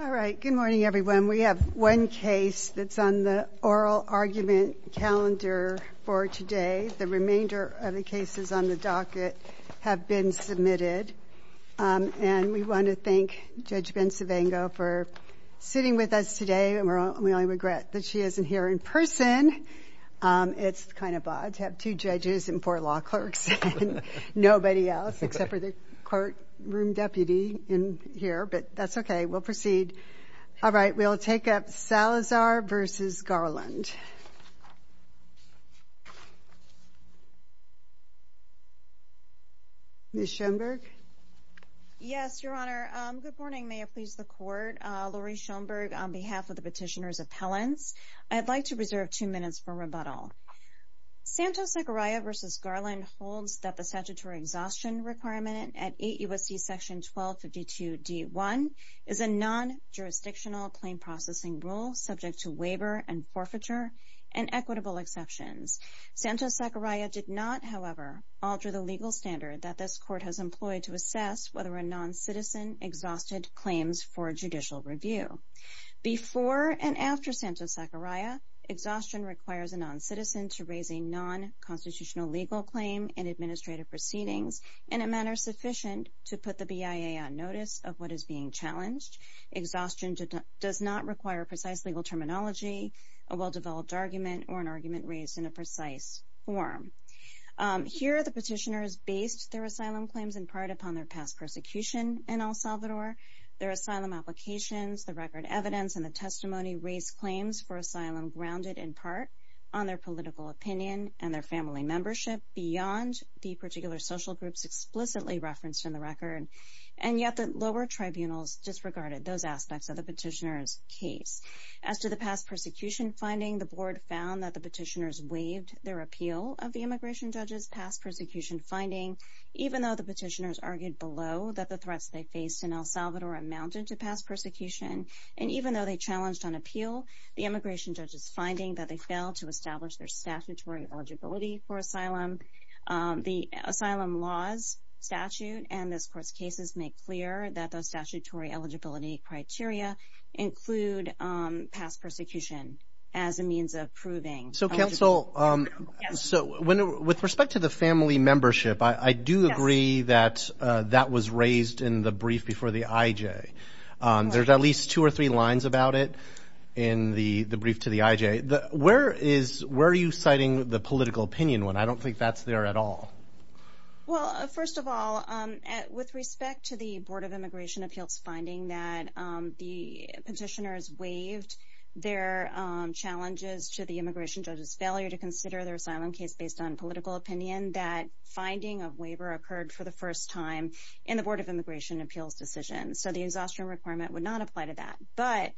All right, good morning everyone. We have one case that's on the oral argument calendar for today. The remainder of the cases on the docket have been submitted and we want to thank Judge Ben Savango for sitting with us today and we only regret that she isn't here in person. It's kind of odd to have two judges and four law clerks and nobody else except for the courtroom deputy in here but that's okay. We'll proceed. All right, we'll take up Salazar versus Garland. Ms. Schoenberg? Yes, Your Honor. Good morning. May it please the Court. Laurie Schoenberg on behalf of the petitioner's appellants. I'd like to reserve two minutes for rebuttal. Santos-Zacariah versus Garland holds that a statutory exhaustion requirement at 8 U.S.C. section 1252 D1 is a non-jurisdictional claim processing rule subject to waiver and forfeiture and equitable exceptions. Santos-Zacariah did not, however, alter the legal standard that this court has employed to assess whether a non-citizen exhausted claims for judicial review. Before and after Santos-Zacariah, exhaustion requires a non-citizen to raise a non-constitutional legal claim and administrative proceedings in a manner sufficient to put the BIA on notice of what is being challenged. Exhaustion does not require precise legal terminology, a well-developed argument, or an argument raised in a precise form. Here the petitioners based their asylum claims in part upon their past persecution in El Salvador. Their asylum applications, the record evidence, and the testimony raised claims for asylum grounded in part on their political opinion and their family membership beyond the particular social groups explicitly referenced in the record, and yet the lower tribunals disregarded those aspects of the petitioner's case. As to the past persecution finding, the board found that the petitioners waived their appeal of the immigration judge's past persecution finding, even though the petitioners argued below that the threats they faced in El Salvador amounted to past persecution, and even though they the immigration judge's finding that they failed to establish their statutory eligibility for asylum, the asylum laws statute and this court's cases make clear that those statutory eligibility criteria include past persecution as a means of proving. So counsel, so with respect to the family membership, I do agree that that was raised in the brief before the IJ. There's at least two or three lines about it in the brief to the IJ. Where are you citing the political opinion when I don't think that's there at all? Well, first of all, with respect to the Board of Immigration Appeals finding that the petitioners waived their challenges to the immigration judge's failure to consider their asylum case based on political opinion, that finding of waiver occurred for the first time in the Board of Immigration Appeals decision. So the but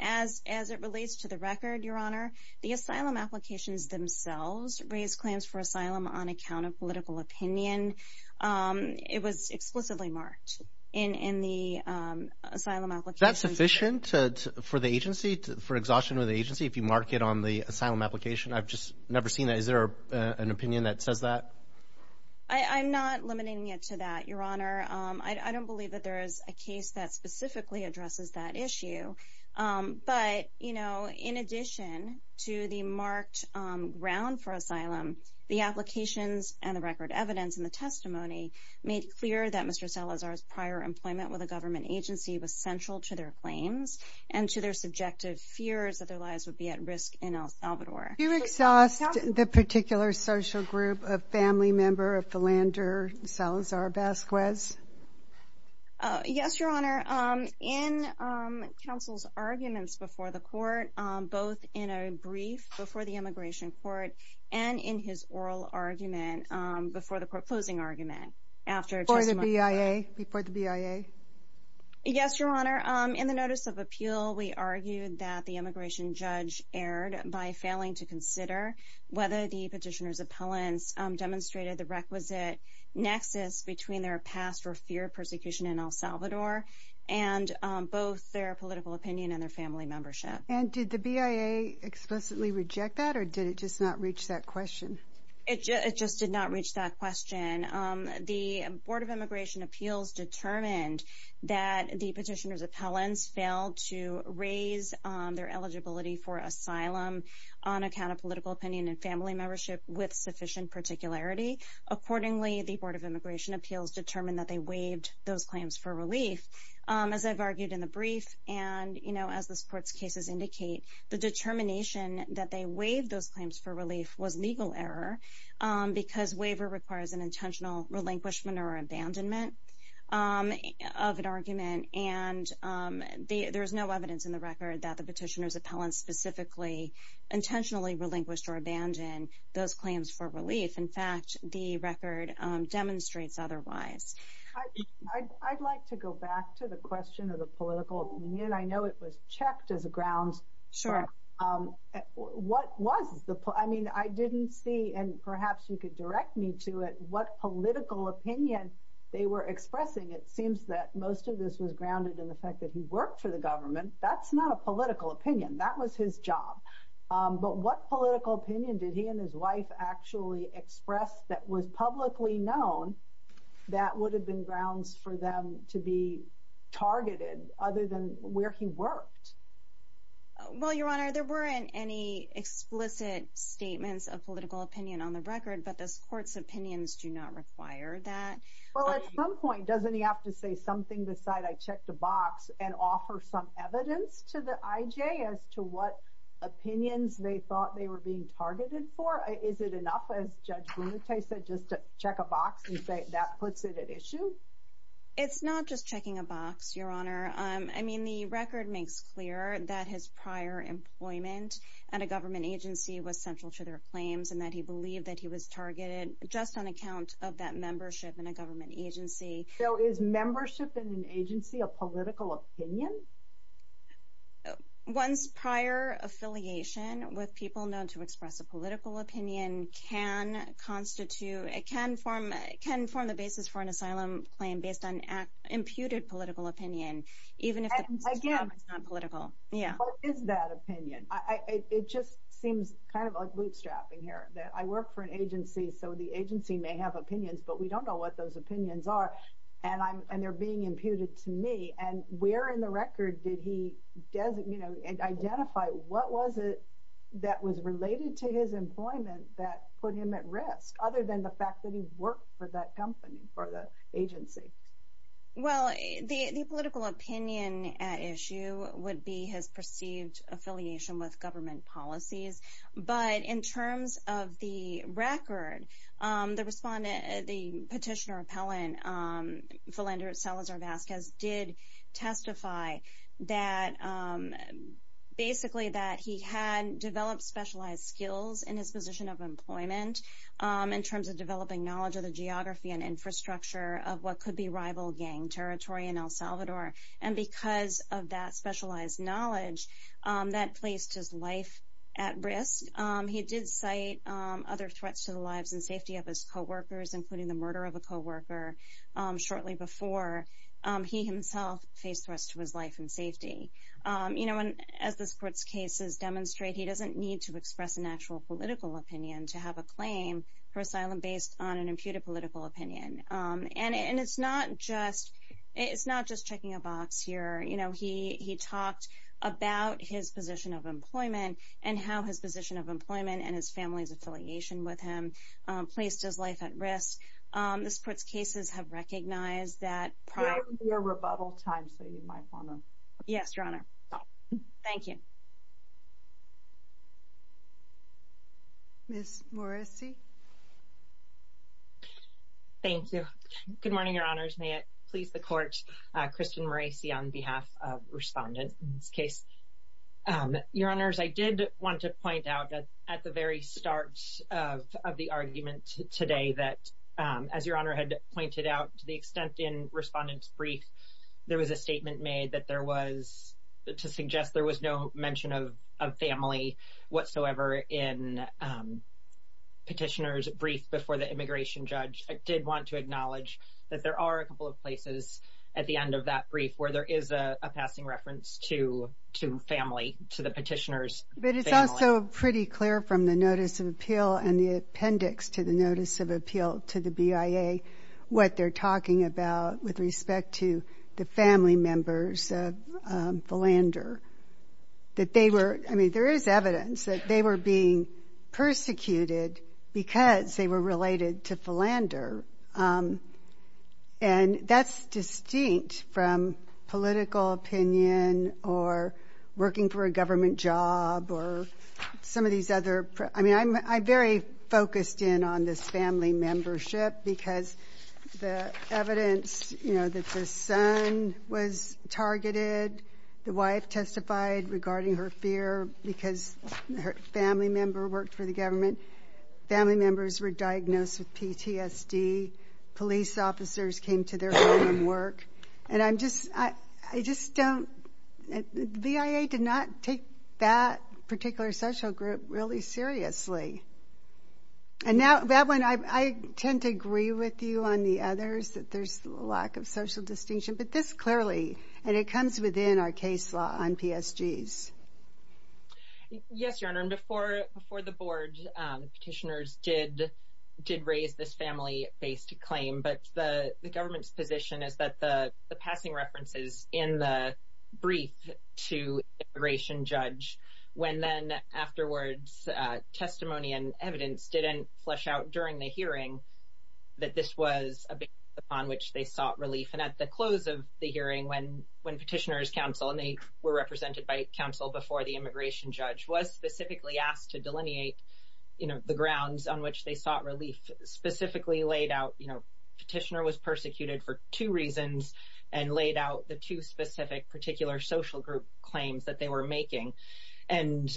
as it relates to the record, Your Honor, the asylum applications themselves raised claims for asylum on account of political opinion. It was explicitly marked in the asylum application. Is that sufficient for the agency, for exhaustion of the agency, if you mark it on the asylum application? I've just never seen that. Is there an opinion that says that? I'm not limiting it to that, Your Honor. I don't believe that there is a case that specifically addresses that issue. But, you know, in addition to the marked ground for asylum, the applications and the record evidence in the testimony made clear that Mr. Salazar's prior employment with a government agency was central to their claims and to their subjective fears that their lives would be at risk in El Salvador. Do you exhaust the particular social group of family member of Philander Salazar Vasquez? Yes, Your Honor. In counsel's arguments before the court, both in a brief before the immigration court and in his oral argument before the court closing argument. Before the BIA? Yes, Your Honor. In the notice of appeal, we argued that the immigration judge erred by failing to consider whether the their past or fear of persecution in El Salvador and both their political opinion and their family membership. And did the BIA explicitly reject that or did it just not reach that question? It just did not reach that question. The Board of Immigration Appeals determined that the petitioner's appellants failed to raise their eligibility for asylum on account of political opinion and family membership with sufficient particularity. Accordingly, the Board of Immigration Appeals determined that they waived those claims for relief. As I've argued in the brief and, you know, as this court's cases indicate, the determination that they waived those claims for relief was legal error because waiver requires an intentional relinquishment or abandonment of an argument. And there is no evidence in the record that the petitioner's appellants specifically intentionally relinquished or abandoned those claims for relief. In fact, the I'd like to go back to the question of the political opinion. I know it was checked as a grounds. Sure. What was the point? I mean, I didn't see and perhaps you could direct me to it what political opinion they were expressing. It seems that most of this was grounded in the fact that he worked for the government. That's not a political opinion. That was his job. But what political opinion did he and his wife actually express that was publicly known that would have been grounds for them to be targeted other than where he worked? Well, Your Honor, there weren't any explicit statements of political opinion on the record, but this court's opinions do not require that. Well, at some point, doesn't he have to say something beside, I checked a box and offer some evidence to the IJ as to what opinions they thought they were being targeted for? Is it enough, as Judge Blumenthal said, just to check a box and say that puts it at issue? It's not just checking a box, Your Honor. I mean, the record makes clear that his prior employment at a government agency was central to their claims and that he believed that he was targeted just on account of that membership in a government agency. So is membership in an agency a political opinion? One's prior affiliation with people known to express a political opinion can constitute, it can form the basis for an asylum claim based on imputed political opinion, even if it's not political. What is that opinion? It just seems kind of like bootstrapping here, that I work for an agency, so the agency may have opinions, but we don't know what those opinions are, and they're being imputed to me, and where in the record did he, you know, identify what was it that was related to his employment that put him at risk, other than the fact that he worked for that company, for the agency? Well, the political opinion at issue would be his perceived affiliation with government policies, but in terms of the record, the petitioner Philander Salazar-Vasquez did testify that basically that he had developed specialized skills in his position of employment, in terms of developing knowledge of the geography and infrastructure of what could be rival gang territory in El Salvador, and because of that specialized knowledge that placed his life at risk. He did cite other threats to the lives and safety of his co-workers, including the murder of a co-worker shortly before he himself faced threats to his life and safety. You know, and as this court's cases demonstrate, he doesn't need to express an actual political opinion to have a claim for asylum based on an imputed political opinion, and it's not just, it's not just checking a box here. You know, he talked about his position of employment and how his position of employment and his family's affiliation with him placed his life at risk. This court's cases have recognized that prior to your rebuttal time, so you might want to. Yes, Your Honor. Thank you. Ms. Morrisey. Thank you. Good morning, Your Honors. May it please the court, Kristen Morrisey, on behalf of respondents in this case. Your Honors, I did want to make a note of the argument today that, as Your Honor had pointed out to the extent in respondent's brief, there was a statement made that there was, to suggest there was no mention of family whatsoever in petitioner's brief before the immigration judge. I did want to acknowledge that there are a couple of places at the end of that brief where there is a passing reference to family, to the petitioner's family. But it's also pretty clear from the notice of appeal and the appendix to the notice of appeal to the BIA what they're talking about with respect to the family members of Philander. That they were, I mean, there is evidence that they were being persecuted because they were related to Philander. And that's distinct from political opinion or working for a government job or some of these other, I mean, I'm very focused in on this family membership because the evidence, you know, that the son was targeted, the wife testified regarding her fear because her family member worked for the government. Family members were diagnosed with PTSD. Police officers came to their home from work. And I'm just, I just don't, the BIA did not take that particular social group really seriously. And now, Bablin, I tend to agree with you on the others that there's a lack of social distinction. But this clearly, and it comes within our case law on PSGs. Yes, Your Honor, and before the board, petitioners did raise this family-based claim. But the government's position is that the passing references in the brief to immigration judge, when then afterwards, testimony and evidence didn't flesh out during the hearing, that this was a basis upon which they sought relief. And at the close of the hearing, when petitioners' counsel, and they were represented by counsel before the immigration judge, was specifically asked to delineate, you know, the grounds on which they sought relief, specifically laid out, you know, petitioner was persecuted for two reasons, and laid out the two specific particular social group claims that they were making. And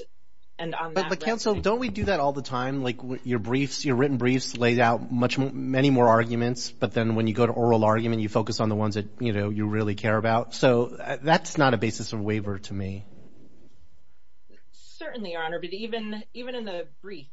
on that- But counsel, don't we do that all the time? Like, your briefs, your written briefs laid out much more, many more arguments. But then when you go to oral argument, you focus on the ones that, you know, you really care about. So that's not a basis of waiver to me. Certainly, Your Honor. But even in the brief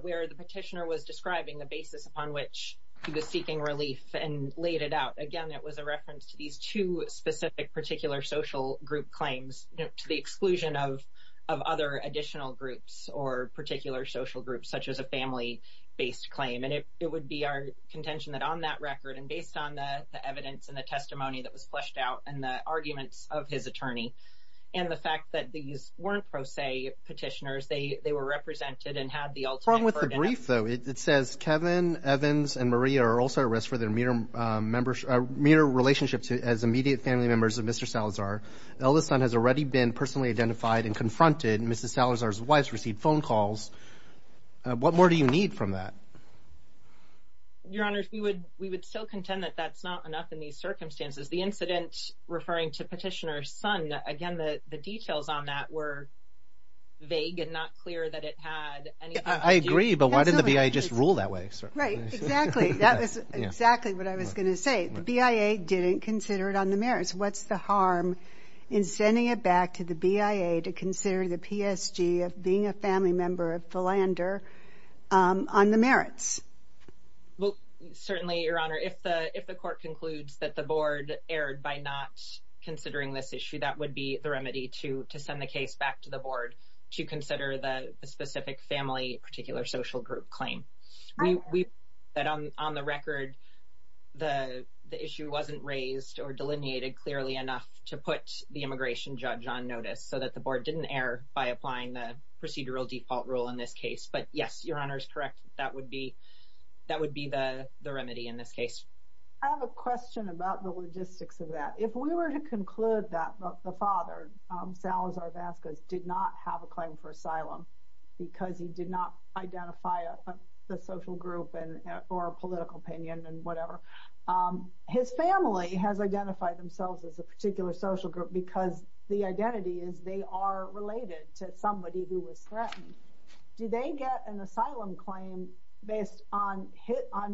where the petitioner was describing the basis upon which he was seeking relief and laid it out, again, it was a reference to these two specific particular social group claims to the exclusion of other additional groups or particular social groups, such as a family-based claim. And it would be our contention that on that record, and based on the evidence and the testimony that was fleshed out, and the arguments of his attorney, and the fact that these weren't pro se petitioners, they were represented and had the ultimate verdict. What's wrong with the brief, though? It says, Kevin, Evans, and Maria are also at risk for their mere relationship as immediate family members of Mr. Salazar. The eldest son has already been personally identified and confronted. Mrs. Salazar's wives received phone calls. What more do you need from that? Your Honor, we would still contend that that's not enough in these circumstances. The incident referring to Petitioner's son, again, the details on that were vague and not clear that it had anything to do... I agree, but why didn't the BIA just rule that way? Right, exactly. That was exactly what I was going to say. The BIA didn't consider it on the merits. What's the harm in sending it back to the BIA to consider the PSG of being a family member of Philander on the merits? Well, certainly, Your Honor, if the court concludes that the board erred by not considering this issue, that would be the remedy to send the case back to the board to consider the specific family, particular social group claim. That on the record, the issue wasn't raised or delineated clearly enough to put the immigration judge on notice so that the board didn't err by applying the procedural default rule in this case. But yes, Your Honor is correct. That would be the remedy in this case. I have a question about the logistics of that. If we were to conclude that the father, Salazar Vasquez, did not have a claim for asylum because he did not identify a social group or a political opinion and whatever, his family has identified themselves as a particular social group because the identity is they are related to somebody who was threatened, do they get an asylum claim based on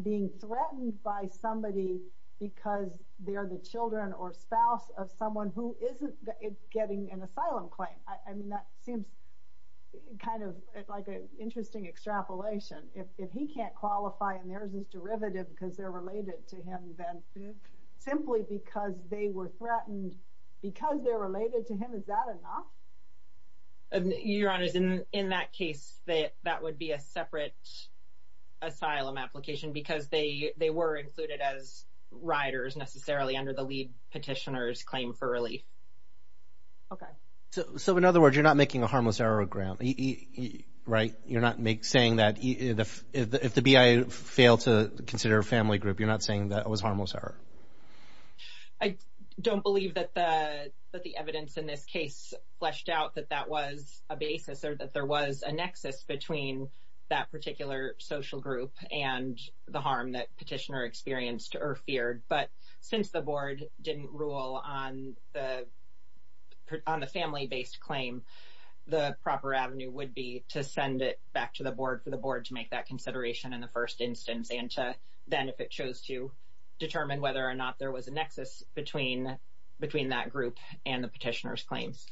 being threatened by somebody because they're the children or spouse of someone who isn't getting an asylum claim? I mean, that seems kind of like an interesting extrapolation. If he can't qualify and there's this derivative because they're related to him, then simply because they were threatened because they're related to him, is that enough? Your Honor, in that case, that would be a separate asylum application because they were included as riders necessarily under the lead petitioner's claim for relief. Okay. So in other words, you're not making a harmless error of ground, right? You're not saying that if the BIA failed to consider a family group, you're not saying that was harmless error. I don't believe that the evidence in this case fleshed out that that was a basis or that there was a nexus between that particular social group and the harm that petitioner experienced or feared. But since the board didn't rule on the family-based claim, the proper avenue would be to send it back to the board for the board to make that consideration in the first instance and to then, if it chose to, determine whether or not there was a nexus between that group and the petitioner's claims.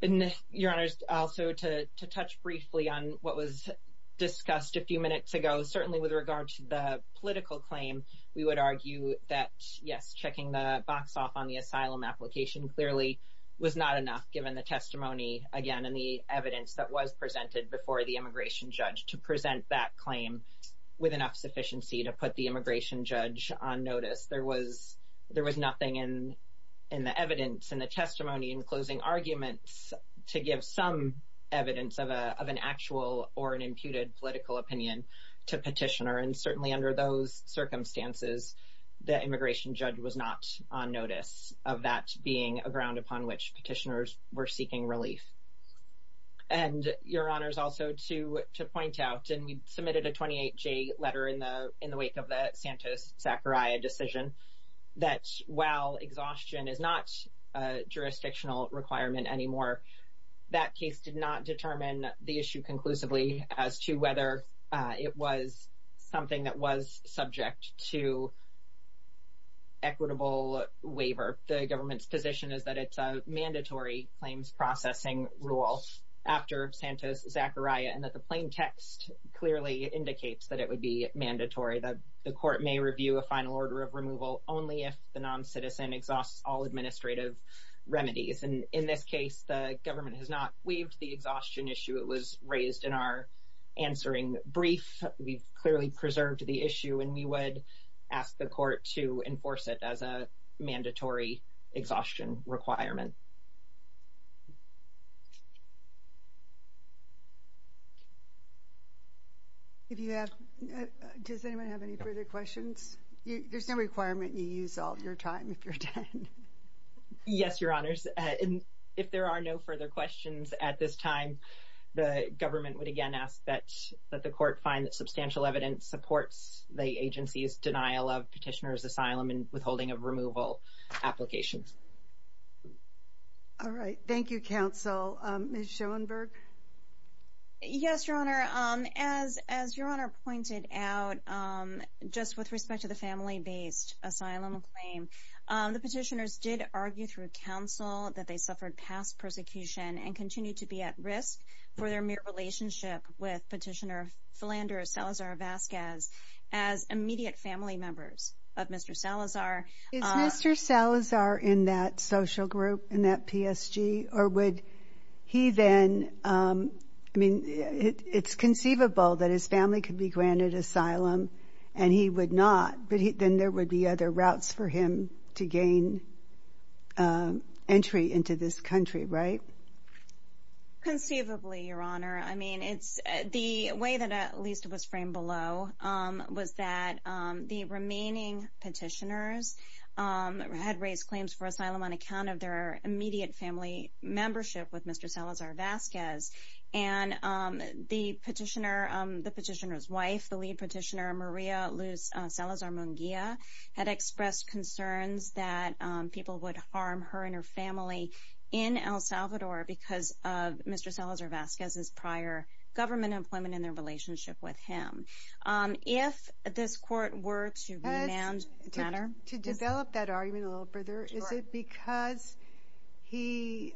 And Your Honor, also to touch briefly on what was discussed a few minutes ago, certainly with regard to the political claim, we would argue that, yes, checking the box off on the asylum application clearly was not enough, given the testimony, again, and the evidence that was presented before the immigration judge to present that claim with enough sufficiency to put the immigration judge on notice. There was nothing in the evidence and the testimony and closing arguments to give some evidence of an actual or an imputed political opinion to petitioner. And being a ground upon which petitioners were seeking relief. And Your Honor, also to point out, and we submitted a 28-J letter in the wake of the Santos-Zachariah decision, that while exhaustion is not a jurisdictional requirement anymore, that case did not determine the issue conclusively as to whether it was something that was subject to equitable waiver. The government's position is that it's a mandatory claims processing rule after Santos-Zachariah, and that the plain text clearly indicates that it would be mandatory, that the court may review a final order of removal only if the non-citizen exhausts all administrative remedies. And in this case, the government has not waived the exhaustion issue. It was raised in our answering brief. We've clearly preserved the issue, and we would ask the court to enforce it as a mandatory exhaustion requirement. If you have, does anyone have any further questions? There's no requirement you use all your time if you're done. Yes, Your Honors. If there are no further questions at this time, the government would again ask that the court find that substantial evidence supports the agency's denial of petitioner's asylum and withholding of removal applications. All right. Thank you, counsel. Ms. Schoenberg? Yes, Your Honor. As Your Honor pointed out, just with respect to the family-based asylum claim, the petitioners did argue through counsel that they suffered past persecution and continue to be at risk for their mere relationship with as immediate family members of Mr. Salazar. Is Mr. Salazar in that social group, in that PSG, or would he then, I mean, it's conceivable that his family could be granted asylum, and he would not, but then there would be other routes for him to gain entry into this country, right? Conceivably, Your Honor. I mean, it's the way that at least it was framed below, was that the remaining petitioners had raised claims for asylum on account of their immediate family membership with Mr. Salazar-Vasquez, and the petitioner, the petitioner's wife, the lead petitioner, Maria Luz Salazar-Munguia, had expressed concerns that people would harm her and her family in El Salvador because of Mr. Salazar-Vasquez's prior government employment in their relationship with him. If this Court were to remand Tanner? To develop that argument a little further, is it because he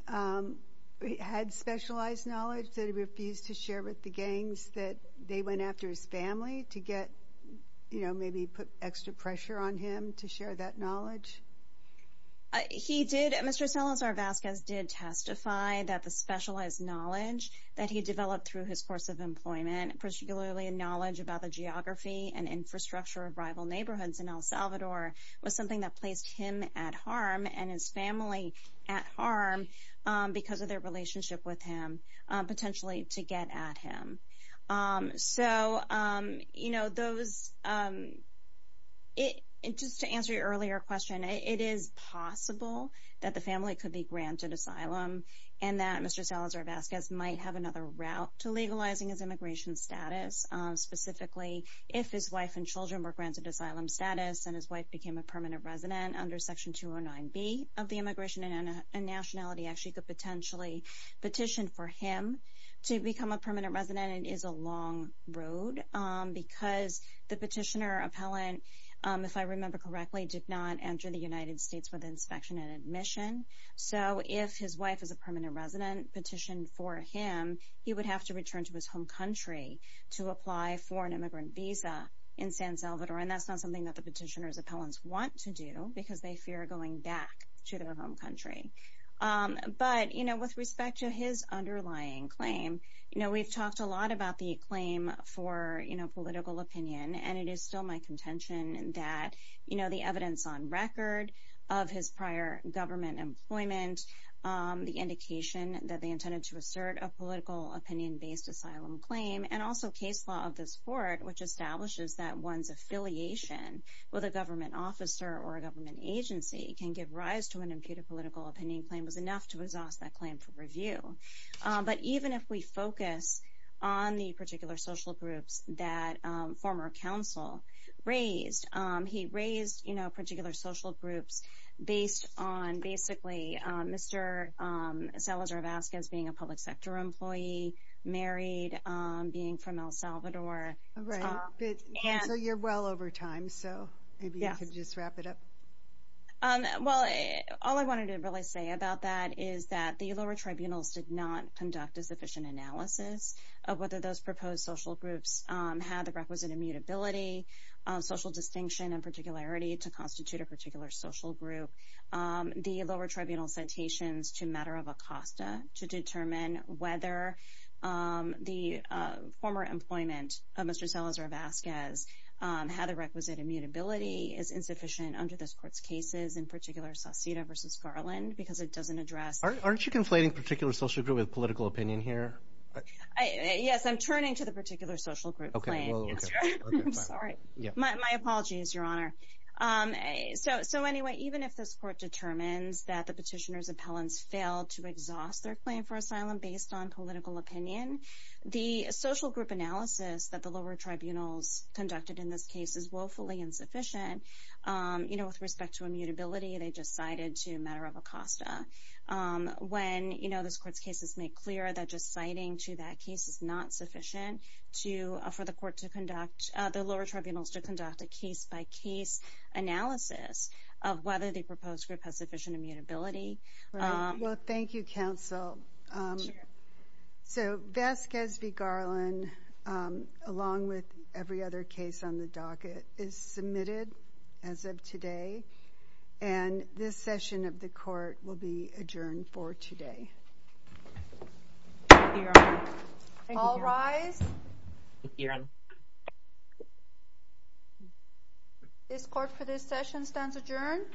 had specialized knowledge that he refused to share with the gangs that they went after his family to get, you know, maybe put extra pressure on him to share that Mr. Salazar-Vasquez did testify that the specialized knowledge that he developed through his course of employment, particularly a knowledge about the geography and infrastructure of rival neighborhoods in El Salvador, was something that placed him at harm and his family at harm because of their relationship with him, potentially to get at him. So, you know, those, just to answer your earlier question, it is possible that the family could be granted asylum and that Mr. Salazar-Vasquez might have another route to legalizing his immigration status, specifically if his wife and children were granted asylum status and his wife became a permanent resident under Section 209B of the Immigration and Nationality Act, she could potentially petition for him to become a permanent resident. It is a long road because the petitioner, if I remember correctly, did not enter the United States with inspection and admission, so if his wife is a permanent resident petitioned for him, he would have to return to his home country to apply for an immigrant visa in San Salvador, and that's not something that the petitioner's appellants want to do because they fear going back to their home country. But, you know, with respect to his underlying claim, you know, we've talked a lot about the that, you know, the evidence on record of his prior government employment, the indication that they intended to assert a political opinion-based asylum claim, and also case law of this court, which establishes that one's affiliation with a government officer or a government agency can give rise to an imputed political opinion claim was enough to exhaust that claim for review. But even if we focus on the particular social groups that former counsel raised, he raised, you know, particular social groups based on basically Mr. Salazar-Vazquez being a public sector employee, married, being from El Salvador. Right. Counsel, you're well over time, so maybe you could just wrap it up. Well, all I wanted to really say about that is that the lower tribunals did not conduct a analysis of whether those proposed social groups had the requisite immutability, social distinction, and particularity to constitute a particular social group. The lower tribunal citations to matter of Acosta to determine whether the former employment of Mr. Salazar-Vazquez had the requisite immutability is insufficient under this court's cases, in particular Saucedo v. Garland, because it doesn't address... I, yes, I'm turning to the particular social group claim. I'm sorry. My apology is your honor. So anyway, even if this court determines that the petitioner's appellants failed to exhaust their claim for asylum based on political opinion, the social group analysis that the lower tribunals conducted in this case is woefully insufficient. You know, with respect to immutability, they just cited to matter of Acosta. When, you know, this court's case has made clear that just citing to that case is not sufficient for the court to conduct, the lower tribunals to conduct a case-by-case analysis of whether the proposed group has sufficient immutability. Well, thank you, counsel. So, Vazquez v. Garland, along with every other case on the docket, is submitted as of today, and this session of the court will be adjourned for today. All rise. This court for this session stands adjourned.